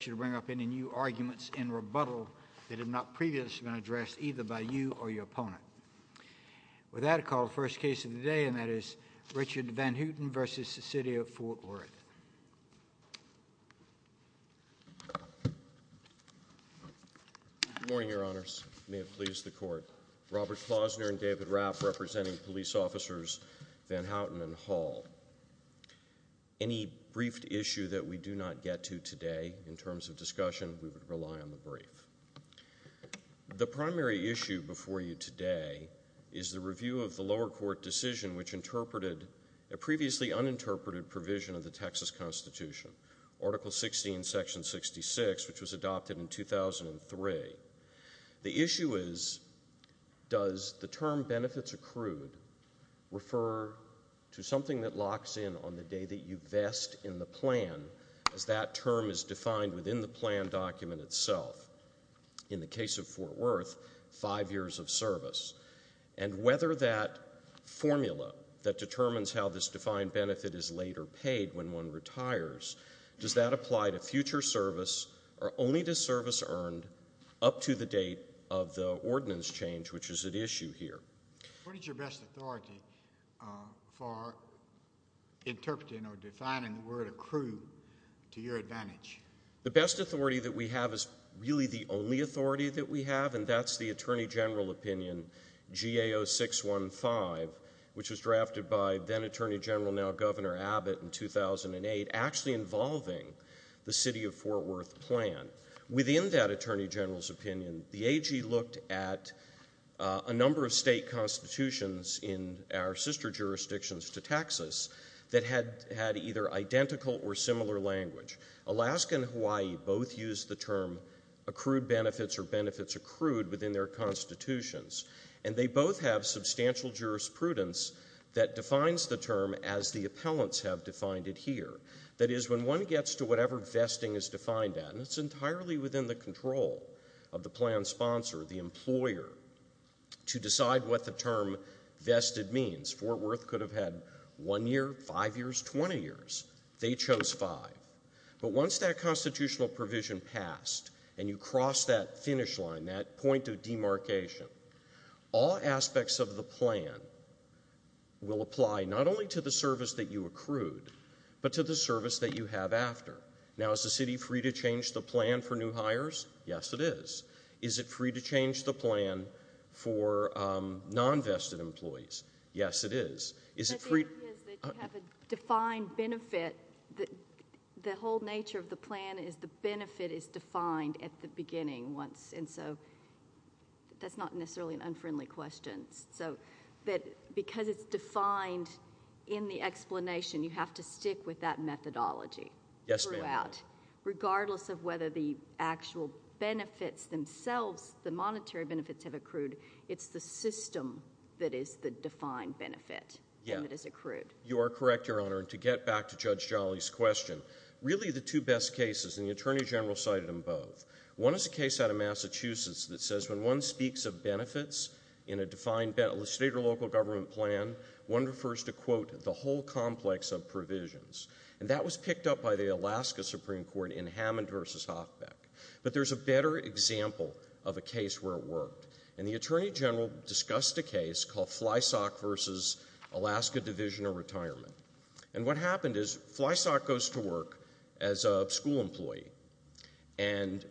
to bring up any new arguments in rebuttal that have not previously been addressed either by you or your opponent. With that, I call the first case of the day, and that is Richard Van Houten v. City of Fort Worth. Good morning, Your Honors. May it please the Court. Robert Klausner and David Rapp, representing police officers Van Houten and Hall. Any briefed issue that we do not get to today, in terms of discussion, we would rely on the brief. The primary issue before you today is the review of the lower court decision which interpreted a previously uninterpreted provision of the Texas Constitution, Article 16, Section 66, which was adopted in 2003. The issue is, does the term benefits accrued refer to something that locks in on the day that you vest in the plan, as that term is defined within the plan document itself? In the case of Fort Worth, five years of service, and whether that formula that determines how this defined benefit is later paid when one retires, does that apply to future service or only to service earned up to the date of the ordinance change, which is at issue here? What is your best authority for interpreting or defining the word accrued to your advantage? The best authority that we have is really the only authority that we have, and that's the Attorney General opinion, GAO 615, which was drafted by then Attorney General, now in the plan. Within that Attorney General's opinion, the AG looked at a number of state constitutions in our sister jurisdictions to Texas that had either identical or similar language. Alaska and Hawaii both used the term accrued benefits or benefits accrued within their constitutions, and they both have substantial jurisprudence that defines the term as the appellants have defined it here. That is, when one gets to whatever vesting is defined at, and it's entirely within the control of the plan sponsor, the employer, to decide what the term vested means. Fort Worth could have had one year, five years, 20 years. They chose five. But once that constitutional provision passed, and you cross that finish line, that point of demarcation, all aspects of the plan will apply not only to the service that you accrued, but to the service that you have after. Now, is the city free to change the plan for new hires? Yes, it is. Is it free to change the plan for non-vested employees? Yes, it is. Is it free? But the idea is that you have a defined benefit. The whole nature of the plan is the benefit is defined at the beginning once, and so that's not necessarily an unfriendly question. So, because it's defined in the explanation, you have to stick with that methodology throughout, regardless of whether the actual benefits themselves, the monetary benefits have accrued. It's the system that is the defined benefit that is accrued. You are correct, Your Honor. To get back to Judge Jolly's question, really the two best cases, and the Attorney General cited them both, one is a case out of Massachusetts that says when one speaks of benefits in a defined state or local government plan, one refers to, quote, the whole complex of provisions. And that was picked up by the Alaska Supreme Court in Hammond v. Hochbeck. But there's a better example of a case where it worked, and the Attorney General discussed a case called Flysock v. Alaska Division of Retirement. And what happened is, Flysock goes to work as a school employee, and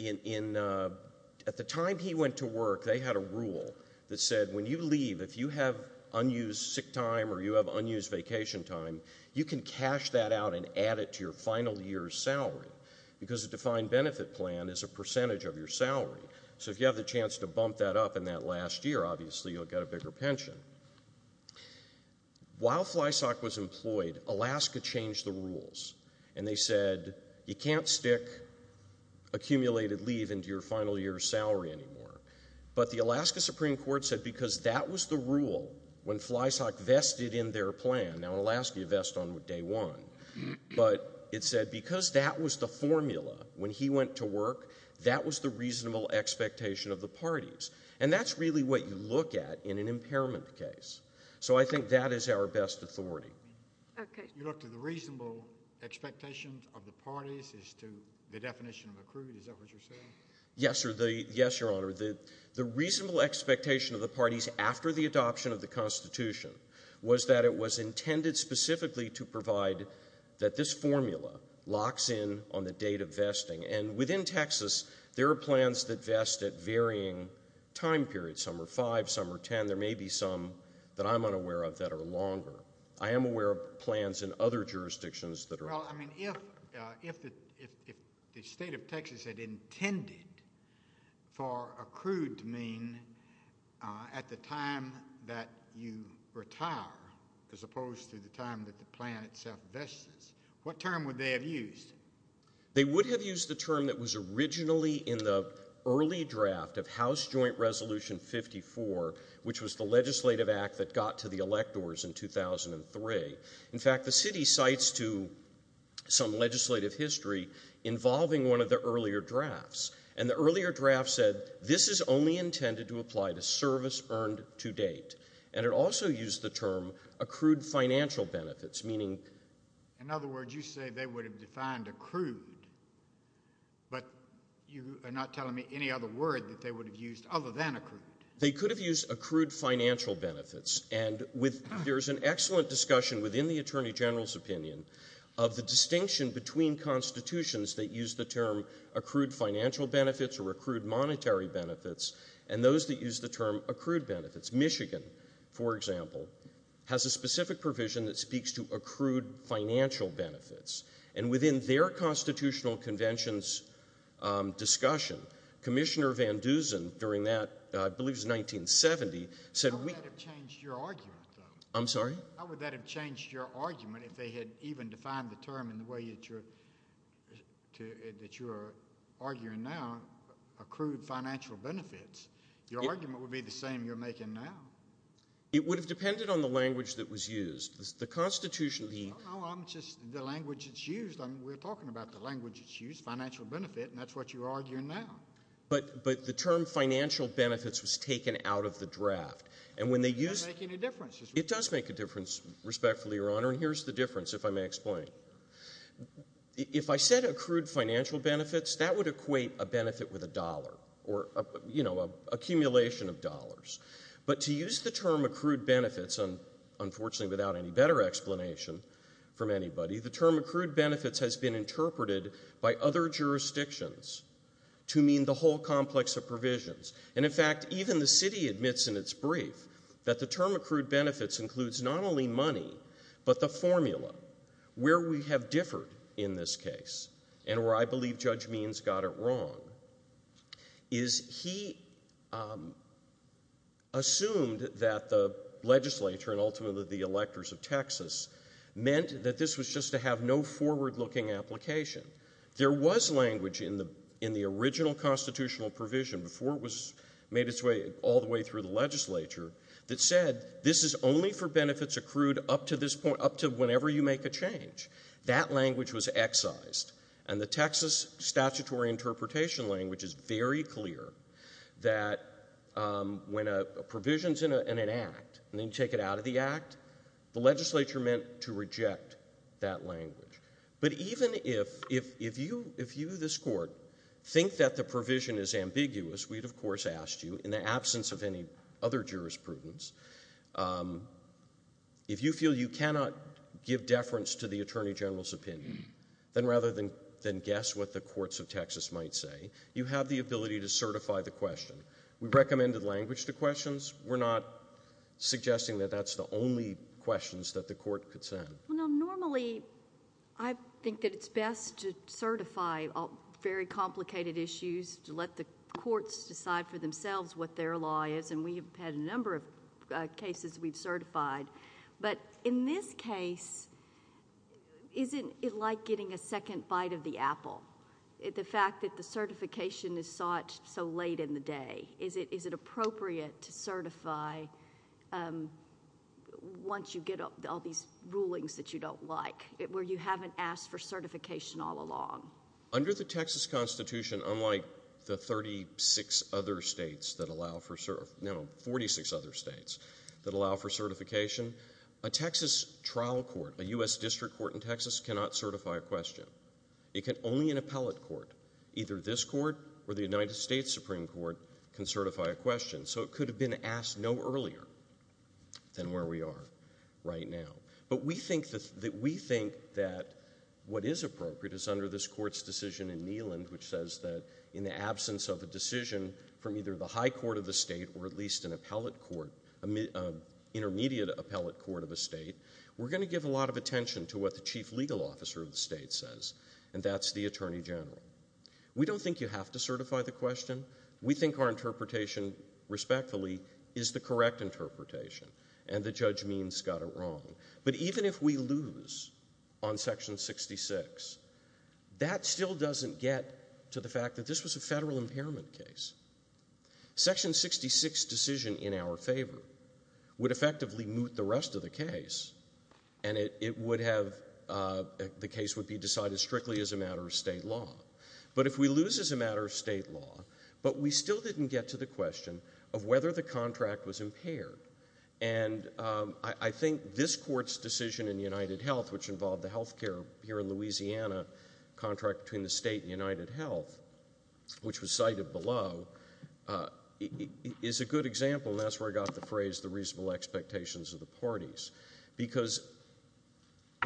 at the time he went to work, they had a rule that said when you leave, if you have unused sick time or you have unused vacation time, you can cash that out and add it to your final year's salary, because a defined benefit plan is a percentage of your salary. So if you have the chance to bump that up in that last year, obviously you'll get a bigger pension. While Flysock was employed, Alaska changed the rules, and they said, you can't stick accumulated leave into your final year's salary anymore. But the Alaska Supreme Court said because that was the rule when Flysock vested in their plan, now in Alaska you vest on day one, but it said because that was the formula when he went to work, that was the reasonable expectation of the parties. And that's really what you look at in an impairment case. So I think that is our best authority. You look to the reasonable expectations of the parties as to the definition of accrued? Is that what you're saying? Yes, Your Honor. The reasonable expectation of the parties after the adoption of the Constitution was that it was intended specifically to provide that this formula locks in on the date of vesting. And within Texas, there are plans that vest at varying time periods. Some are five, some are 10. There may be some that I'm unaware of that are longer. I am aware of plans in other jurisdictions that are longer. Well, I mean, if the state of Texas had intended for accrued to mean at the time that you retire, as opposed to the time that the plan itself vests, what term would they have used? They would have used the term that was originally in the early draft of House Joint Resolution 54, which was the legislative act that got to the electors in 2003. In fact, the city cites to some legislative history involving one of the earlier drafts. And the earlier draft said, this is only intended to apply to service earned to date. And it also used the term accrued financial benefits, meaning? In other words, you say they would have defined accrued, but you are not telling me any other word that they would have used other than accrued. They could have used accrued financial benefits. And there's an excellent discussion within the Attorney General's opinion of the distinction between constitutions that use the term accrued financial benefits or accrued monetary benefits, and those that use the term accrued benefits. Michigan, for example, has a specific provision that speaks to accrued financial benefits. And within their constitutional convention's discussion, Commissioner Van Dusen, during that, I believe it was 1970, said we... How would that have changed your argument, though? I'm sorry? How would that have changed your argument if they had even defined the term in the way that you are arguing now, accrued financial benefits? Your argument would be the same you're making now. It would have depended on the language that was used. The constitution... No, no, I'm just... The language that's used, we're talking about the language that's used, financial benefit, and that's what you're arguing now. But the term financial benefits was taken out of the draft. And when they used... It doesn't make any difference. It does make a difference, respectfully, Your Honor. And here's the difference, if I may explain. If I said accrued financial benefits, that would equate a benefit with a dollar or, you know, an accumulation of dollars. But to use the term accrued benefits, unfortunately without any better explanation from anybody, the term accrued benefits has been interpreted by other jurisdictions to mean the whole complex of provisions. And, in fact, even the city admits in its brief that the term accrued benefits includes not only money, but the formula. Where we have differed in this case, and where I believe Judge Means got it wrong, is he assumed that the legislature, and ultimately the electors of Texas, meant that this was just to have no forward-looking application. There was language in the original constitutional provision before it was made its way all the way through the legislature that said, this is only for benefits accrued up to this point, up to whenever you make a change. That language was excised. And the Texas statutory interpretation language is very clear that when a provision is in an act, and then you take it out of the act, the legislature meant to reject that language. But even if you, this court, think that the provision is ambiguous, we'd of course ask you, in the absence of any other jurisprudence, if you feel you cannot give deference to the provision, then guess what the courts of Texas might say. You have the ability to certify the question. We recommended language to questions. We're not suggesting that that's the only questions that the court could send. Well, now normally, I think that it's best to certify very complicated issues, to let the courts decide for themselves what their law is, and we have had a number of cases we've certified. But in this case, isn't it like getting a second bite of the apple, the fact that the certification is sought so late in the day? Is it appropriate to certify once you get all these rulings that you don't like, where you haven't asked for certification all along? Under the Texas Constitution, unlike the 36 other states that allow for, no, 46 other states that allow for certification, a Texas trial court, a U.S. district court in Texas, cannot certify a question. It can only an appellate court, either this court or the United States Supreme Court, can certify a question, so it could have been asked no earlier than where we are right now. But we think that what is appropriate is under this court's decision in Neyland, which says that in the absence of a decision from either the high court of the state or at least an intermediate appellate court of a state, we're going to give a lot of attention to what the chief legal officer of the state says, and that's the attorney general. We don't think you have to certify the question. We think our interpretation, respectfully, is the correct interpretation, and the judge means got it wrong. But even if we lose on section 66, that still doesn't get to the fact that this was a federal impairment case. Section 66 decision in our favor would effectively moot the rest of the case, and it would have the case would be decided strictly as a matter of state law. But if we lose as a matter of state law, but we still didn't get to the question of whether the contract was impaired, and I think this court's decision in UnitedHealth, which involved the health care here in Louisiana contract between the state and UnitedHealth, which was cited below, is a good example, and that's where I got the phrase, the reasonable expectations of the parties. Because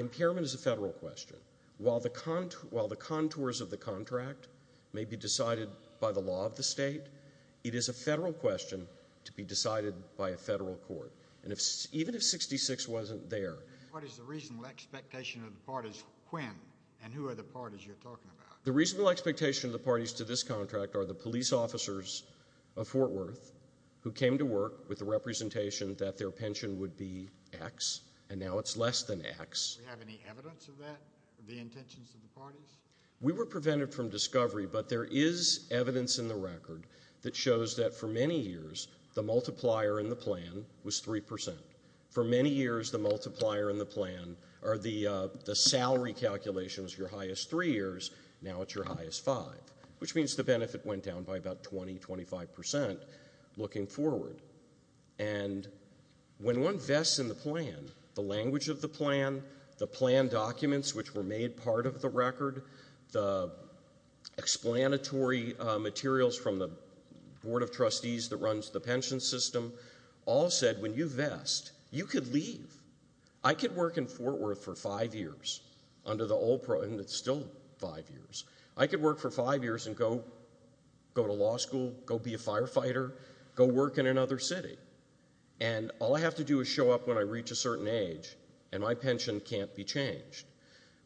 impairment is a federal question. While the contours of the contract may be decided by the law of the state, it is a federal question to be decided by a federal court. And even if 66 wasn't there. What is the reasonable expectation of the parties when, and who are the parties you're talking about? The reasonable expectation of the parties to this contract are the police officers of Fort Worth who came to work with the representation that their pension would be X, and now it's less than X. Do we have any evidence of that, of the intentions of the parties? We were prevented from discovery, but there is evidence in the record that shows that for many years, the multiplier in the plan was 3%. For many years, the multiplier in the plan, or the salary calculation was your highest three years, now it's your highest five. Which means the benefit went down by about 20, 25% looking forward. And when one vests in the plan, the language of the plan, the plan documents which were made part of the record, the explanatory materials from the board of trustees that runs the pension system, all said when you vest, you could leave. I could work in Fort Worth for five years, under the old pro, and it's still five years. I could work for five years and go to law school, go be a firefighter, go work in another city, and all I have to do is show up when I reach a certain age, and my pension can't be changed.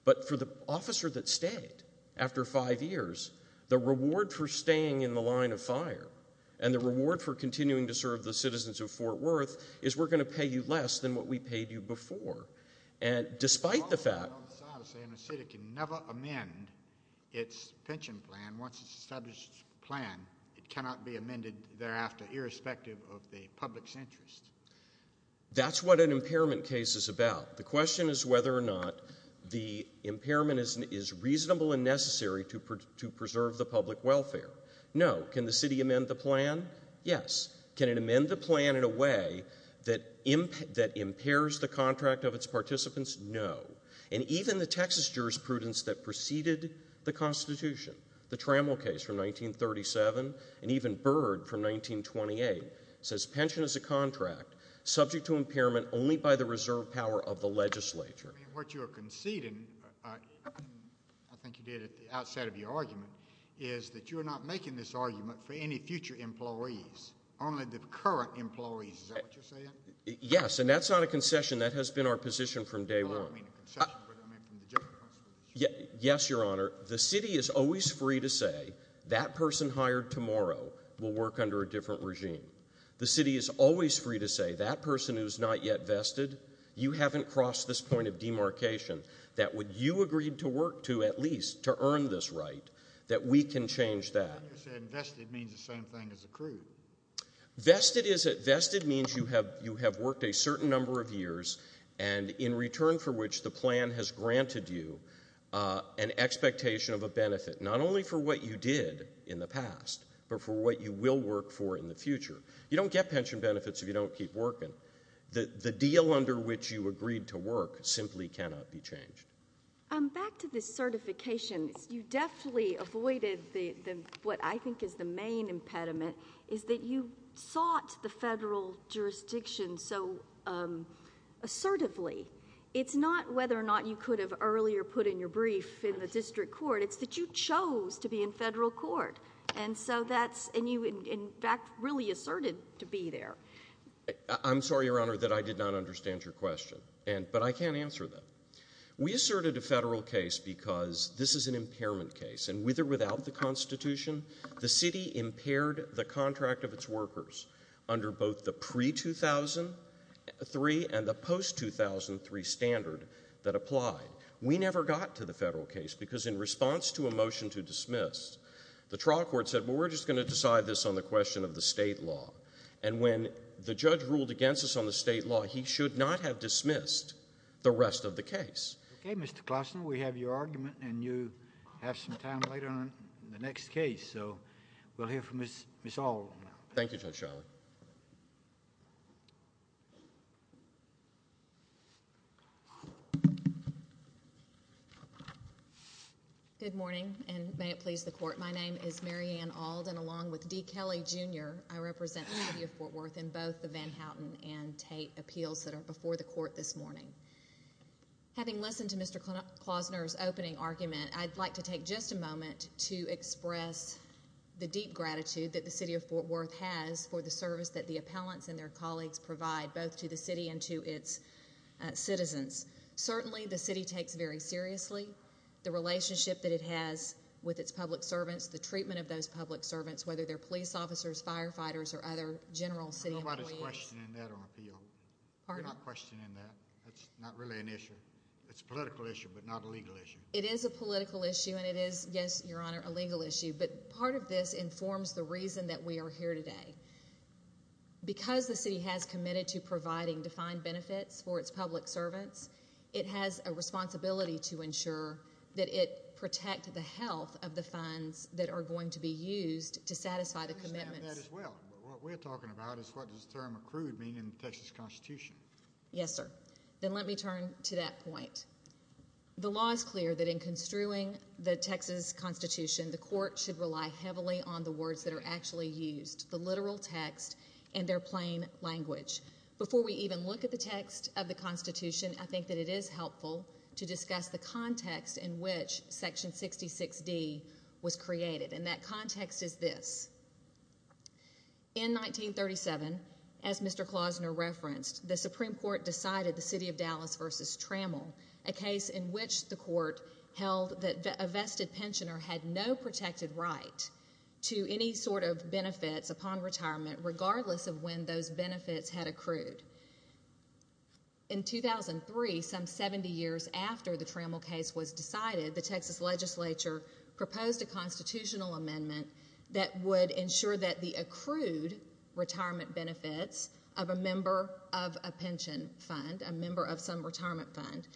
But for the officer that stayed, after five years, the reward for staying in the line of fire, and the reward for continuing to serve the citizens of Fort Worth, is we're going to get you before. And despite the fact... I'm sorry to say, and the city can never amend its pension plan, once it's established its plan, it cannot be amended thereafter, irrespective of the public's interest. That's what an impairment case is about. The question is whether or not the impairment is reasonable and necessary to preserve the public welfare. No. Can the city amend the plan? Yes. Can it amend the plan in a way that impairs the contract of its participants? No. And even the Texas jurisprudence that preceded the Constitution, the Trammell case from 1937, and even Byrd from 1928, says pension is a contract subject to impairment only by the reserve power of the legislature. What you are conceding, I think you did at the outset of your argument, is that you're not making this argument for any future employees, only the current employees, is that what you're saying? Yes. And that's not a concession. That has been our position from day one. Well, I don't mean a concession. I mean from the General Constitution. Yes, Your Honor. The city is always free to say, that person hired tomorrow will work under a different regime. The city is always free to say, that person who's not yet vested, you haven't crossed this point of demarcation, that what you agreed to work to, at least, to earn this right, that we can change that. You said vested means the same thing as accrued. Vested means you have worked a certain number of years, and in return for which the plan has granted you an expectation of a benefit, not only for what you did in the past, but for what you will work for in the future. You don't get pension benefits if you don't keep working. The deal under which you agreed to work simply cannot be changed. Back to this certification. You definitely avoided what I think is the main impediment, is that you sought the federal jurisdiction so assertively. It's not whether or not you could have earlier put in your brief in the district court. It's that you chose to be in federal court, and you, in fact, really asserted to be there. I'm sorry, Your Honor, that I did not understand your question, but I can answer that. We asserted a federal case because this is an impairment case, and with or without the Constitution, the city impaired the contract of its workers under both the pre-2003 and the post-2003 standard that applied. We never got to the federal case, because in response to a motion to dismiss, the trial court said, well, we're just going to decide this on the question of the state law. And when the judge ruled against us on the state law, he should not have dismissed the rest of the case. Okay, Mr. Klassner, we have your argument, and you have some time later on in the next case. We'll hear from Ms. Auld now. Thank you, Judge Shiley. Good morning, and may it please the court. My name is Mary Ann Auld, and along with D. Kelly, Jr., I represent the city of Fort Worth in both the Van Houten and Tate appeals that are before the court this morning. Having listened to Mr. Klassner's opening argument, I'd like to take just a moment to express the deep gratitude that the city of Fort Worth has for the service that the appellants and their colleagues provide, both to the city and to its citizens. Certainly the city takes very seriously the relationship that it has with its public servants, the treatment of those public servants, whether they're police officers, firefighters, or other general city employees. Nobody's questioning that on appeal. You're not questioning that. That's true. It's not really an issue. It's a political issue, but not a legal issue. It is a political issue, and it is, yes, Your Honor, a legal issue, but part of this informs the reason that we are here today. Because the city has committed to providing defined benefits for its public servants, it has a responsibility to ensure that it protects the health of the funds that are going to be used to satisfy the commitments. I understand that as well, but what we're talking about is what does the term accrued mean in the Texas Constitution? Yes, sir. Then let me turn to that point. The law is clear that in construing the Texas Constitution, the court should rely heavily on the words that are actually used, the literal text and their plain language. Before we even look at the text of the Constitution, I think that it is helpful to discuss the context in which Section 66D was created, and that context is this. In 1937, as Mr. Klausner referenced, the Supreme Court decided the city of Dallas versus Trammell, a case in which the court held that a vested pensioner had no protected right to any sort of benefits upon retirement, regardless of when those benefits had accrued. In 2003, some 70 years after the Trammell case was decided, the Texas legislature proposed a constitutional amendment that would ensure that the accrued retirement benefits of a member of a pension fund, a member of some retirement fund,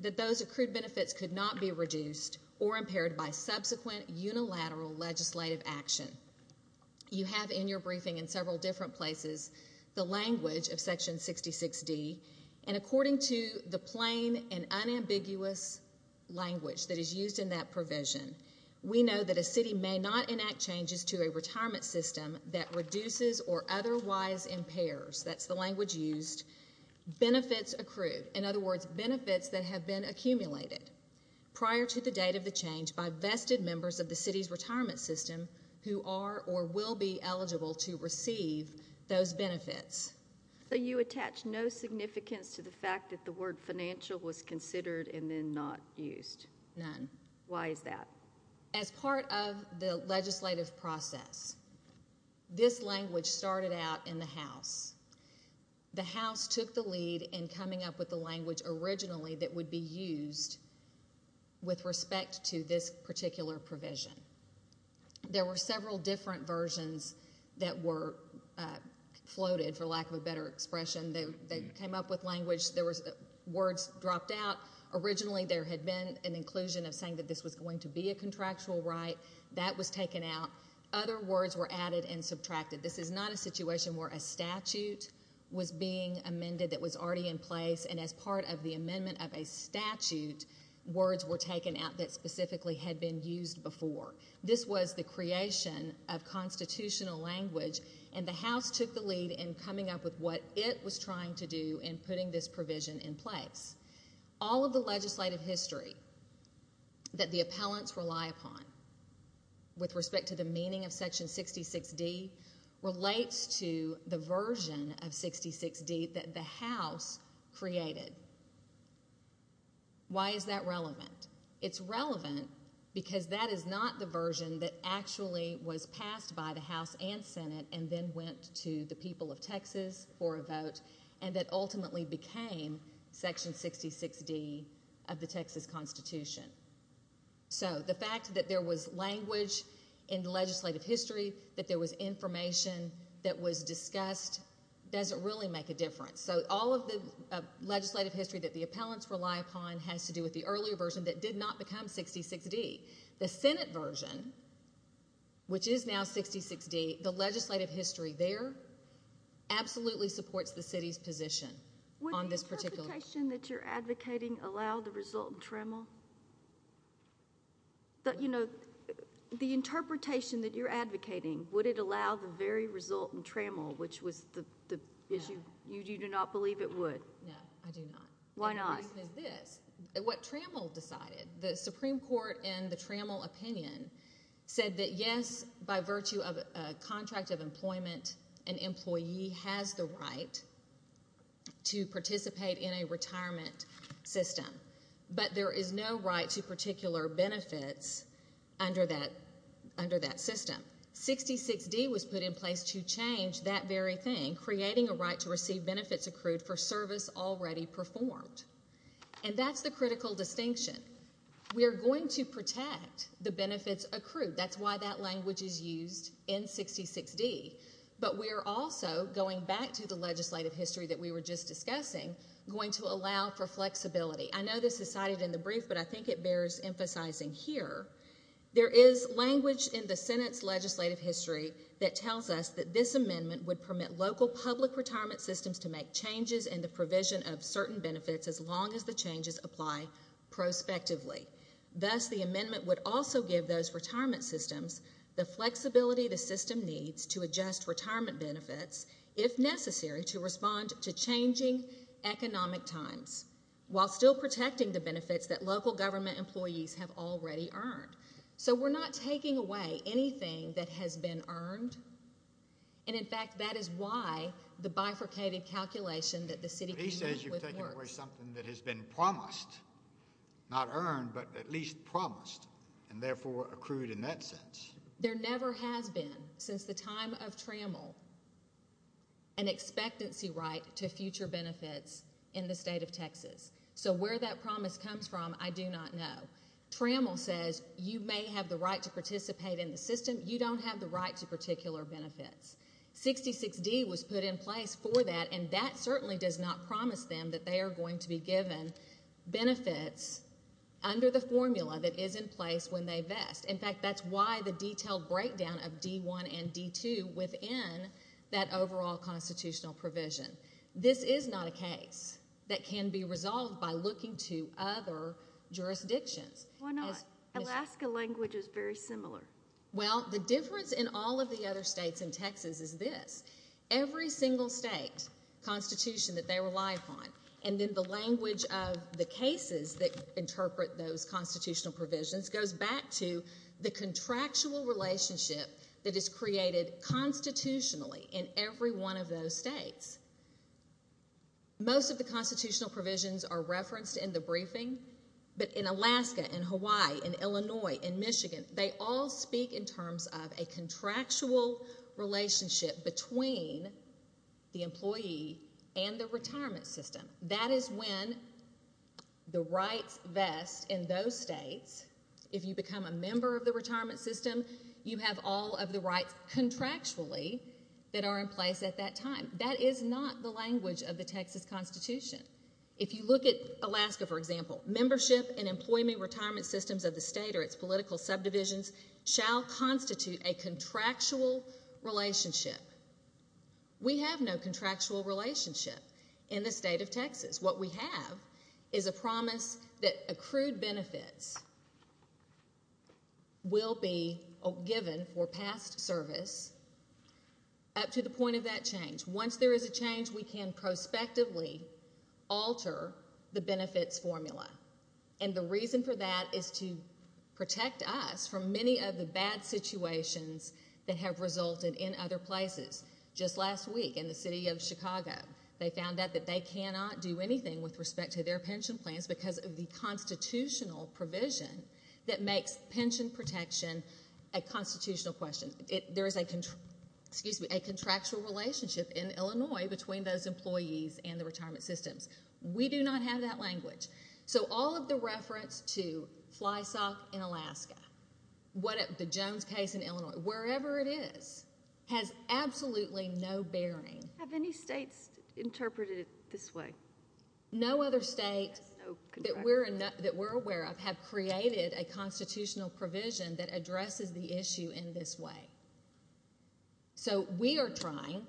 that those accrued benefits could not be reduced or impaired by subsequent unilateral legislative action. You have in your briefing in several different places the language of Section 66D, and according to the plain and unambiguous language that is used in that provision, we know that a city may not enact changes to a retirement system that reduces or otherwise impairs, that's the language used, benefits accrued, in other words, benefits that have been accumulated prior to the date of the change by vested members of the city's retirement system who are or will be eligible to receive those benefits. So you attach no significance to the fact that the word financial was considered and then not used? None. Why is that? As part of the legislative process, this language started out in the House. The House took the lead in coming up with the language originally that would be used with respect to this particular provision. There were several different versions that were floated, for lack of a better expression. They came up with language. There were words dropped out. Originally there had been an inclusion of saying that this was going to be a contractual right. That was taken out. Other words were added and subtracted. This is not a situation where a statute was being amended that was already in place, and as part of the amendment of a statute, words were taken out that specifically had been used before. This was the creation of constitutional language, and the House took the lead in coming up with what it was trying to do in putting this provision in place. All of the legislative history that the appellants rely upon with respect to the meaning of Section 66D relates to the version of 66D that the House created. Why is that relevant? It's relevant because that is not the version that actually was passed by the House and Senate and then went to the people of Texas for a vote, and that ultimately became Section 66D of the Texas Constitution. The fact that there was language in the legislative history, that there was information that was discussed doesn't really make a difference. All of the legislative history that the appellants rely upon has to do with the earlier version that did not become 66D. The Senate version, which is now 66D, the legislative history there absolutely supports the city's position on this particular... Would the interpretation that you're advocating allow the resultant tremble? The interpretation that you're advocating, would it allow the very resultant tremble, which was the issue you do not believe it would? No. I do not. Why not? The reason is this. What Trammell decided, the Supreme Court in the Trammell opinion said that yes, by virtue of a contract of employment, an employee has the right to participate in a retirement system, but there is no right to particular benefits under that system. 66D was put in place to change that very thing, creating a right to receive benefits accrued for service already performed. That's the critical distinction. We are going to protect the benefits accrued. That's why that language is used in 66D, but we are also, going back to the legislative history that we were just discussing, going to allow for flexibility. I know this is cited in the brief, but I think it bears emphasizing here. There is language in the Senate's legislative history that tells us that this amendment would permit local public retirement systems to make changes in the provision of certain benefits as long as the changes apply prospectively. Thus, the amendment would also give those retirement systems the flexibility the system needs to adjust retirement benefits, if necessary, to respond to changing economic times, while still protecting the benefits that local government employees have already earned. We're not taking away anything that has been earned. In fact, that is why the bifurcated calculation that the city committee was working on. He says you're taking away something that has been promised, not earned, but at least promised and, therefore, accrued in that sense. There never has been, since the time of Trammell, an expectancy right to future benefits in the state of Texas. Where that promise comes from, I do not know. Trammell says you may have the right to participate in the system. You don't have the right to particular benefits. 66D was put in place for that, and that certainly does not promise them that they are going to be given benefits under the formula that is in place when they vest. In fact, that's why the detailed breakdown of D1 and D2 within that overall constitutional provision. This is not a case that can be resolved by looking to other jurisdictions. Why not? Alaska language is very similar. Well, the difference in all of the other states in Texas is this. Every single state constitution that they rely upon, and then the language of the cases that interpret those constitutional provisions goes back to the contractual relationship that is created constitutionally in every one of those states. Most of the constitutional provisions are referenced in the briefing, but in Alaska and Hawaii and Illinois and Michigan, they all speak in terms of a contractual relationship between the employee and the retirement system. That is when the rights vest in those states, if you become a member of the retirement system, you have all of the rights contractually that are in place at that time. That is not the language of the Texas Constitution. If you look at Alaska, for example, membership and employment retirement systems of the state or its political subdivisions shall constitute a contractual relationship. We have no contractual relationship in the state of Texas. What we have is a promise that accrued benefits will be given for past service up to the point of that change. Once there is a change, we can prospectively alter the benefits formula. The reason for that is to protect us from many of the bad situations that have resulted in other places. Just last week in the city of Chicago, they found out that they cannot do anything with respect to their pension plans because of the constitutional provision that makes pension protection a constitutional question. There is a contractual relationship in Illinois between those employees and the retirement systems. We do not have that language. All of the reference to Fly Sock in Alaska, the Jones case in Illinois, wherever it is, has absolutely no bearing. Have any states interpreted it this way? No other state that we're aware of have created a constitutional provision that addresses the issue in this way. We are trying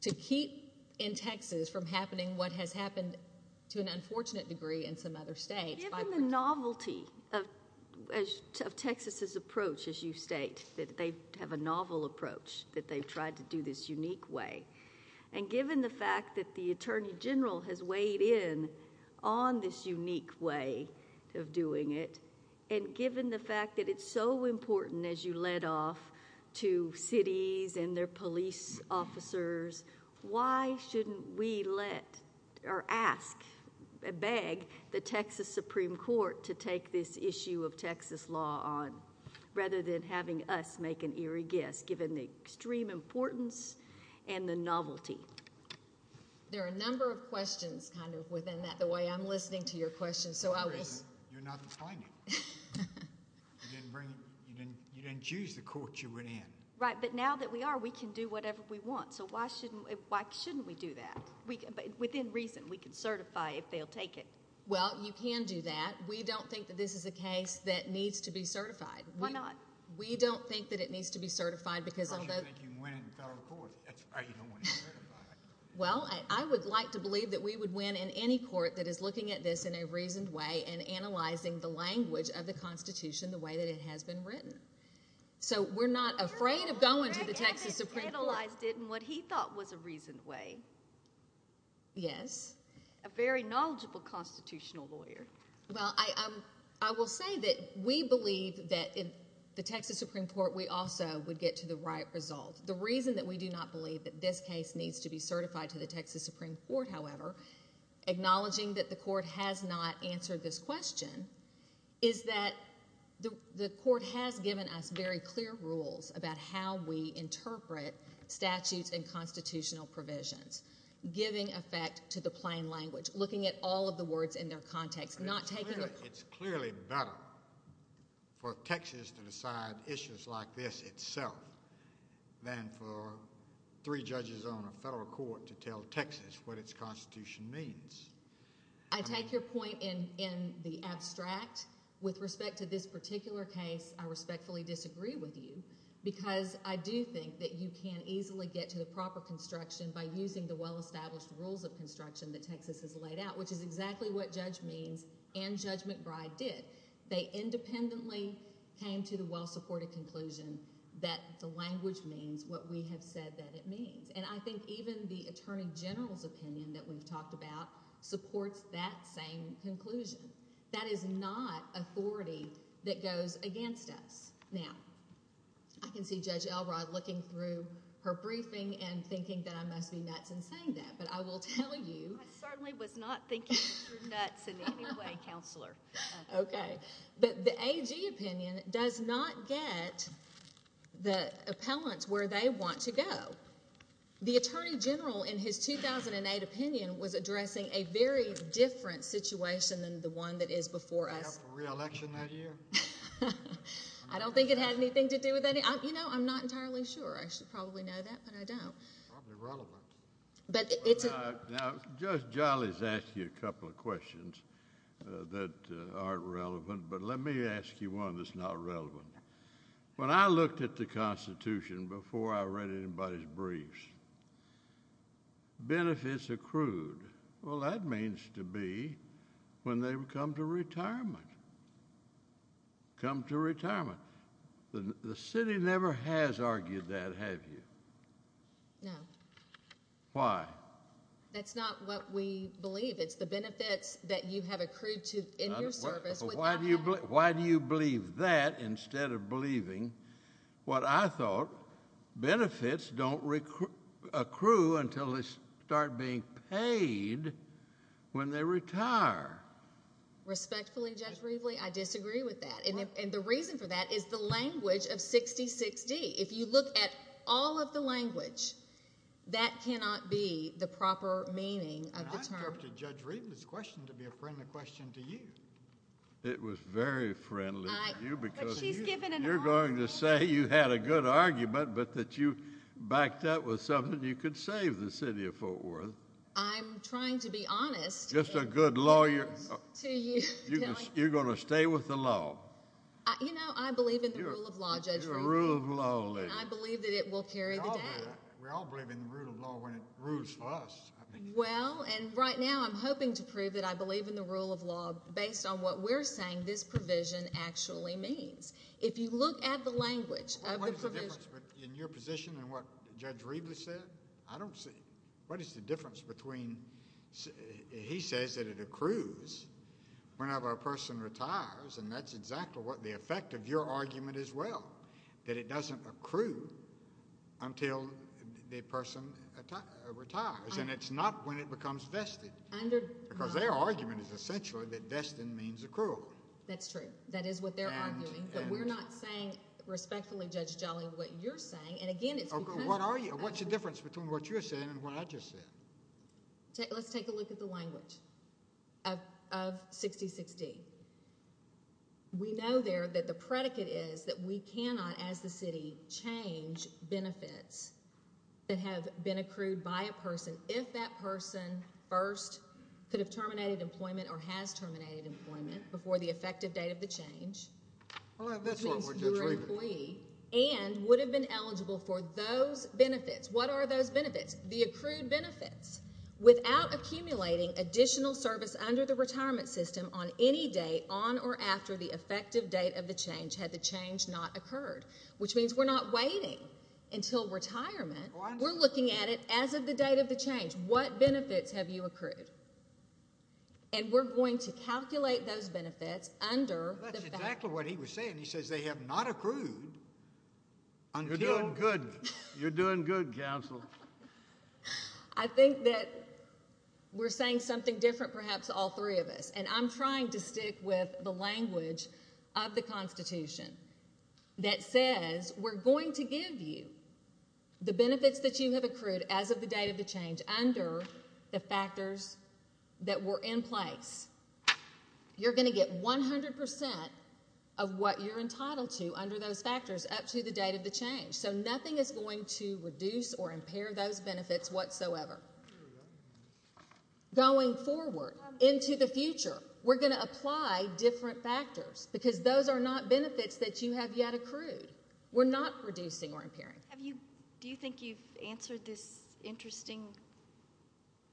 to keep in Texas from happening what has happened to an unfortunate degree in some other states. Given the novelty of Texas's approach, as you state, that they have a novel approach, that they've tried to do this unique way, and given the fact that the Attorney General has weighed in on this unique way of doing it, and given the fact that it's so important, as you led off, to cities and their police officers, why shouldn't we let or ask, beg, the Texas Supreme Court to take this issue of Texas law on, rather than having us make an eerie guess, given the extreme importance and the novelty? There are a number of questions kind of within that, the way I'm listening to your questions, so I will... Within reason. You're not explaining. You didn't choose the court you went in. Right, but now that we are, we can do whatever we want, so why shouldn't we do that? Within reason. We can certify if they'll take it. Well, you can do that. We don't think that this is a case that needs to be certified. Why not? We don't think that it needs to be certified because of the... I don't think you can win in the federal court. That's why you don't want to be certified. Well, I would like to believe that we would win in any court that is looking at this in a reasoned way and analyzing the language of the Constitution the way that it has been written. So, we're not afraid of going to the Texas Supreme Court. Greg Evans analyzed it in what he thought was a reasoned way. Yes. A very knowledgeable constitutional lawyer. Well, I will say that we believe that in the Texas Supreme Court, we also would get to the right result. The reason that we do not believe that this case needs to be certified to the Texas Supreme Court, however, acknowledging that the court has not answered this question, is that the court has given us very clear rules about how we interpret statutes and constitutional provisions, giving effect to the plain language, looking at all of the words in their context, not taking... I think it's clearly better for Texas to decide issues like this itself than for three judges on a federal court to tell Texas what its Constitution means. I take your point in the abstract. With respect to this particular case, I respectfully disagree with you because I do think that you can easily get to the proper construction by using the well-established rules of construction that Texas has laid out, which is exactly what Judge Means and Judge McBride did. They independently came to the well-supported conclusion that the language means what we have said that it means. I think even the Attorney General's opinion that we've talked about supports that same conclusion. That is not authority that goes against us. Now, I can see Judge Elrod looking through her briefing and thinking that I must be nuts in saying that, but I will tell you... I certainly was not thinking you were nuts in any way, Counselor. Okay. But the AG opinion does not get the appellants where they want to go. The Attorney General in his 2008 opinion was addressing a very different situation than the one that is before us. Did they have a re-election that year? I don't think it had anything to do with any... You know, I'm not entirely sure. I should probably know that, but I don't. Probably relevant. Now, Judge Jolley has asked you a couple of questions that aren't relevant, but let me ask you one that's not relevant. When I looked at the Constitution before I read anybody's briefs, benefits accrued, well, that means to be when they come to retirement. Come to retirement. The city never has argued that, have you? No. No. Why? That's not what we believe. It's the benefits that you have accrued in your service without having... Why do you believe that instead of believing what I thought, benefits don't accrue until they start being paid when they retire? Respectfully, Judge Rivley, I disagree with that, and the reason for that is the language of 66D. If you look at all of the language, that cannot be the proper meaning of the term. I turned to Judge Rivley's question to be a friendly question to you. It was very friendly to you because... But she's given an argument. You're going to say you had a good argument, but that you backed up with something you could save the city of Fort Worth. I'm trying to be honest... Just a good lawyer...... to you... You're going to stay with the law. You know, I believe in the rule of law, Judge Rivley. The rule of law. And I believe that it will carry the day. We all believe in the rule of law when it rules for us. Well, and right now, I'm hoping to prove that I believe in the rule of law based on what we're saying this provision actually means. If you look at the language of the provision... What is the difference in your position and what Judge Rivley said? I don't see... What is the difference between... He says that it accrues whenever a person retires, and that's exactly what the effect of your argument is, well, that it doesn't accrue until the person retires, and it's not when it becomes vested, because their argument is essentially that vested means accrual. That's true. That is what they're arguing, but we're not saying respectfully, Judge Jolly, what you're saying, and again, it's because... What's the difference between what you're saying and what I just said? Let's take a look at the language of 66D. We know there that the predicate is that we cannot, as the city, change benefits that have been accrued by a person if that person first could have terminated employment or has terminated employment before the effective date of the change... I'll have this one, where Judge Rivley...... and would have been eligible for those benefits. What are those benefits? The accrued benefits. Without accumulating additional service under the retirement system on any date on or after the effective date of the change had the change not occurred, which means we're not waiting until retirement. We're looking at it as of the date of the change. What benefits have you accrued? We're going to calculate those benefits under the fact... That's exactly what he was saying. He says they have not accrued until... You're doing good. You're doing good, counsel. I think that we're saying something different, perhaps, to all three of us, and I'm trying to stick with the language of the Constitution that says we're going to give you the benefits that you have accrued as of the date of the change under the factors that were in place. You're going to get 100 percent of what you're entitled to under those factors up to the date of the change. Nothing is going to reduce or impair those benefits whatsoever. Going forward, into the future, we're going to apply different factors, because those are not benefits that you have yet accrued. We're not reducing or impairing. Do you think you've answered this interesting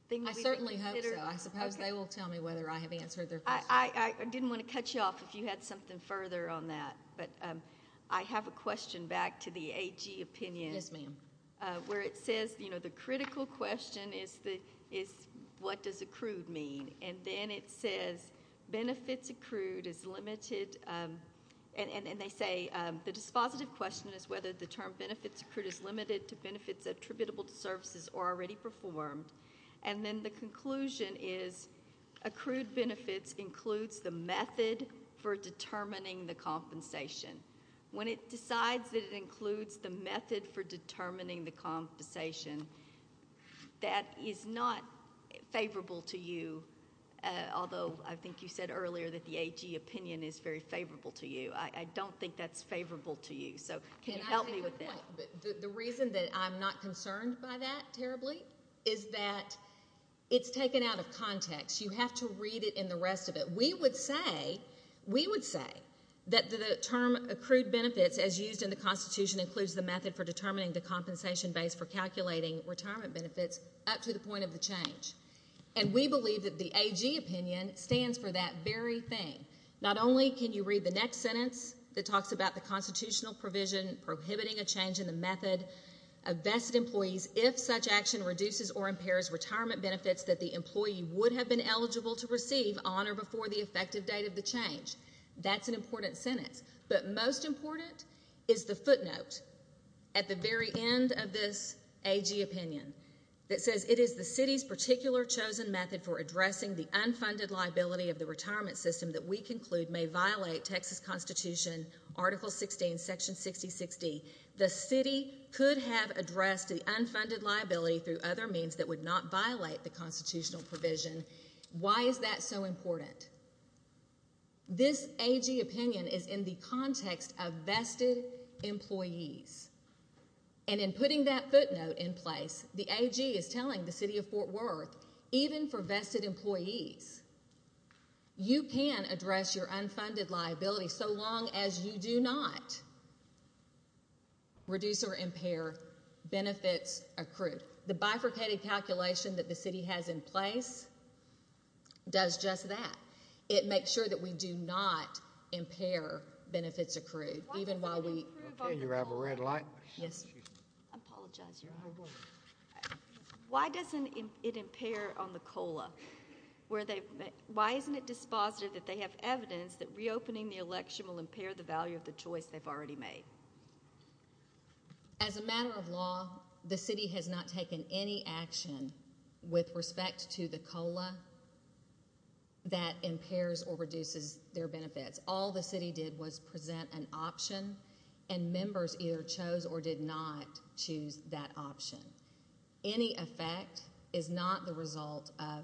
thing that we've... I certainly hope so. I suppose they will tell me whether I have answered their question. I didn't want to cut you off if you had something further on that, but I have a question back to the AG opinion. Yes, ma'am. Where it says the critical question is what does accrued mean, and then it says benefits accrued is limited, and they say the dispositive question is whether the term benefits accrued is limited to benefits attributable to services already performed, and then the conclusion is accrued benefits includes the method for determining the compensation. When it decides that it includes the method for determining the compensation, that is not favorable to you, although I think you said earlier that the AG opinion is very favorable to you. I don't think that's favorable to you, so can you help me with that? The reason that I'm not concerned by that terribly is that it's taken out of context. You have to read it in the rest of it. We would say that the term accrued benefits, as used in the Constitution, includes the method for determining the compensation base for calculating retirement benefits up to the point of the change, and we believe that the AG opinion stands for that very thing. Not only can you read the next sentence that talks about the constitutional provision prohibiting a change in the method of vested employees if such action reduces or impairs retirement benefits that the employee would have been eligible to receive on or before the effective date of the change. That's an important sentence, but most important is the footnote at the very end of this AG opinion that says, it is the city's particular chosen method for addressing the unfunded liability of the retirement system that we conclude may violate Texas Constitution, Article 16, Section 6060. The city could have addressed the unfunded liability through other means that would not violate the constitutional provision. Why is that so important? This AG opinion is in the context of vested employees, and in putting that footnote in place, the AG is telling the city of Fort Worth, even for vested employees, you can address your unfunded liability so long as you do not reduce or impair benefits accrued. The bifurcated calculation that the city has in place does just that. It makes sure that we do not impair benefits accrued, even while we... Okay, you have a red light. Yes. I apologize. You're on. Why doesn't it impair on the COLA? Why isn't it dispositive that they have evidence that reopening the election will impair the value of the choice they've already made? As a matter of law, the city has not taken any action with respect to the COLA that impairs or reduces their benefits. All the city did was present an option, and members either chose or did not choose that option. Any effect is not the result of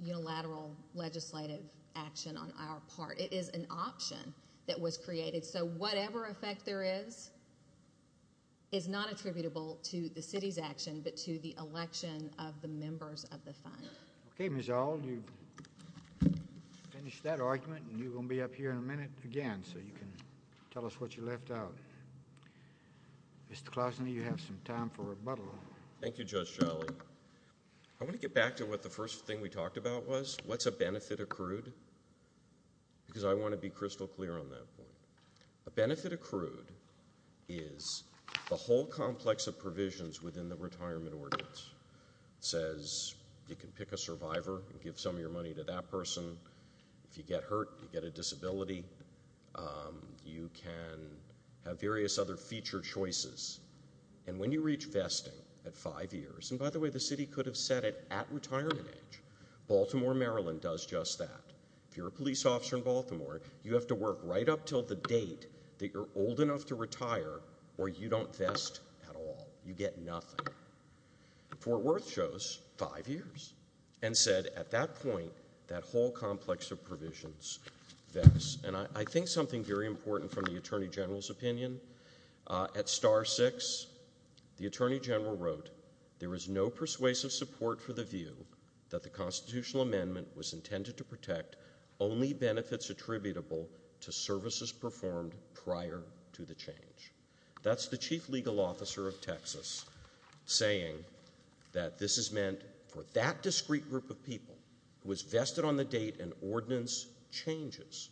unilateral legislative action on our part. It is an option that was created. So, whatever effect there is, is not attributable to the city's action, but to the election of the members of the fund. Okay, Ms. Auld, you've finished that argument, and you're going to be up here in a minute again, so you can tell us what you left out. Mr. Klausner, you have some time for rebuttal. Thank you, Judge Sholley. I want to get back to what the first thing we talked about was. What's a benefit accrued? Because I want to be crystal clear on that point. A benefit accrued is the whole complex of provisions within the retirement ordinance. It says you can pick a survivor and give some of your money to that person. If you get hurt, you get a disability. You can have various other feature choices. And when you reach vesting at five years, and by the way, the city could have said it at retirement age. Baltimore, Maryland does just that. If you're a police officer in Baltimore, you have to work right up until the date that you're old enough to retire, or you don't vest at all. You get nothing. Fort Worth shows five years, and said at that point, that whole complex of provisions vests. And I think something very important from the Attorney General's opinion, at Star 6, the Attorney General wrote, there is no persuasive support for the view that the constitutional amendment was intended to protect only benefits attributable to services performed prior to the change. That's the chief legal officer of Texas saying that this is meant for that discrete group of people who is vested on the date an ordinance changes.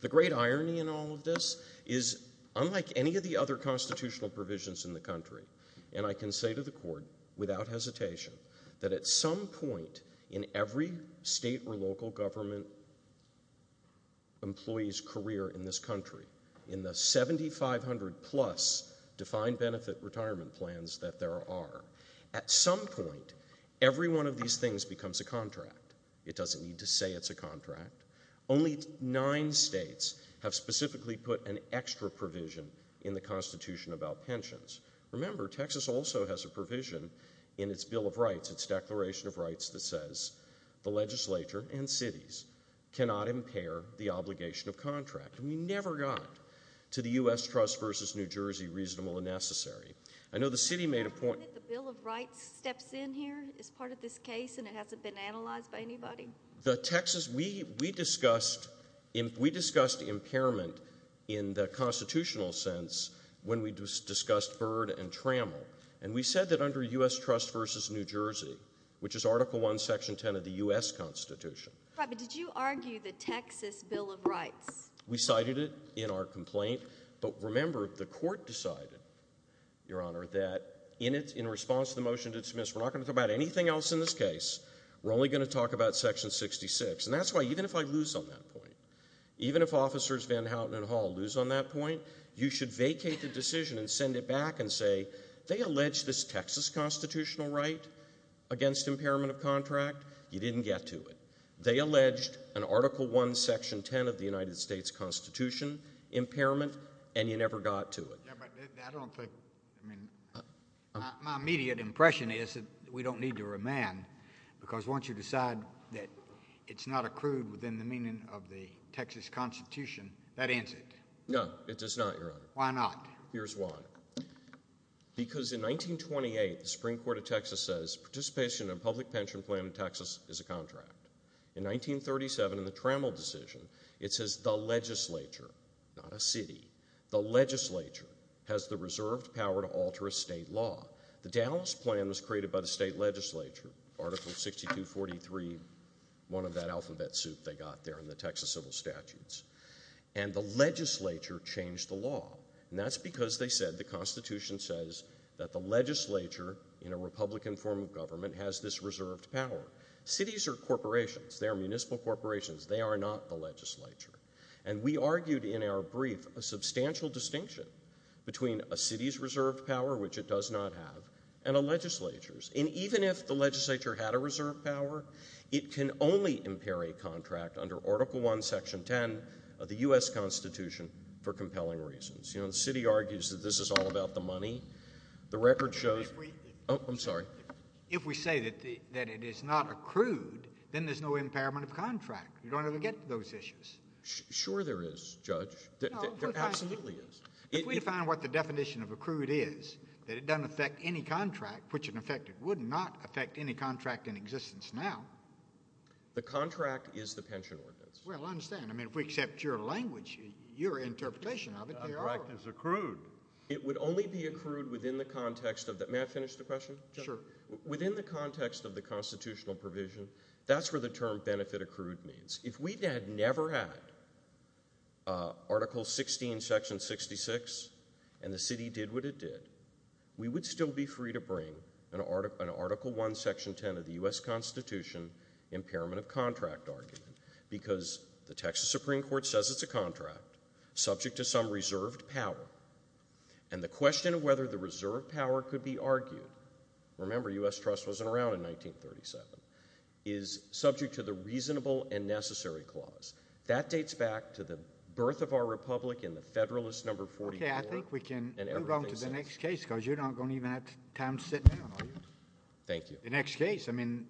The great irony in all of this is, unlike any of the other constitutional provisions in the country, and I can say to the court, without hesitation, that at some point in every state or local government employee's career in this country, in the 7,500 plus defined benefit retirement plans that there are, at some point, every one of these things becomes a contract. It doesn't need to say it's a contract. Only nine states have specifically put an extra provision in the Constitution about pensions. Remember, Texas also has a provision in its Bill of Rights, its Declaration of Rights, that says the legislature and cities cannot impair the obligation of contract. And we never got to the U.S. trust versus New Jersey reasonable and necessary. I know the city made a point- Have you ever heard that the Bill of Rights steps in here as part of this case and it hasn't been analyzed by anybody? The Texas, we discussed impairment in the constitutional sense when we discussed Byrd and Trammell. And we said that under U.S. trust versus New Jersey, which is Article I, Section 10 of the U.S. Constitution. Right, but did you argue the Texas Bill of Rights? We cited it in our complaint, but remember, the court decided, Your Honor, that in response to the motion to dismiss, we're not going to talk about anything else in this case. We're only going to talk about Section 66. And that's why, even if I lose on that point, even if Officers Van Houten and Hall lose on that point, you should vacate the decision and send it back and say, They allege this Texas constitutional right against impairment of contract. You didn't get to it. They alleged an Article I, Section 10 of the United States Constitution impairment, and you never got to it. Yeah, but I don't think, I mean, my immediate impression is that we don't need to remand because once you decide that it's not accrued within the meaning of the Texas Constitution, that ends it. No, it does not, Your Honor. Why not? Here's why. Because in 1928, the Supreme Court of Texas says participation in a public pension plan in Texas is a contract. In 1937, in the Trammell decision, it says the legislature, not a city, the legislature has the reserved power to alter a state law. The Dallas Plan was created by the state legislature, Article 6243, one of that alphabet soup they got there in the Texas civil statutes. And the legislature changed the law, and that's because, they said, the Constitution says that the legislature, in a Republican form of government, has this reserved power. Cities are corporations. They are municipal corporations. They are not the legislature. And we argued in our brief a substantial distinction between a city's reserved power, which it does not have, and a legislature's. And even if the legislature had a reserved power, it can only impair a contract under Article 1, Section 10 of the U.S. Constitution for compelling reasons. You know, the city argues that this is all about the money. The record shows— If we— Oh, I'm sorry. If we say that it is not accrued, then there's no impairment of contract. You don't ever get to those issues. Sure there is, Judge. There absolutely is. No, but I— If we define what the definition of accrued is, that it doesn't affect any contract, which in effect it would not affect any contract in existence now— The contract is the pension ordinance. Well, I understand. I mean, if we accept your language, your interpretation of it, they are— The contract is accrued. It would only be accrued within the context of the—may I finish the question, Judge? Sure. Within the context of the constitutional provision, that's where the term benefit accrued means. If we had never had Article 16, Section 66, and the city did what it did, we would still be free to bring an Article 1, Section 10 of the U.S. Constitution impairment of contract argument because the Texas Supreme Court says it's a contract subject to some reserved power, and the question of whether the reserved power could be argued—remember, U.S. trust wasn't around in 1937—is subject to the reasonable and necessary clause. That dates back to the birth of our republic in the Federalist No. 44, and everything else. Okay, I think we can move on to the next case because you're not going to even have time to sit down, are you? Thank you. The next case.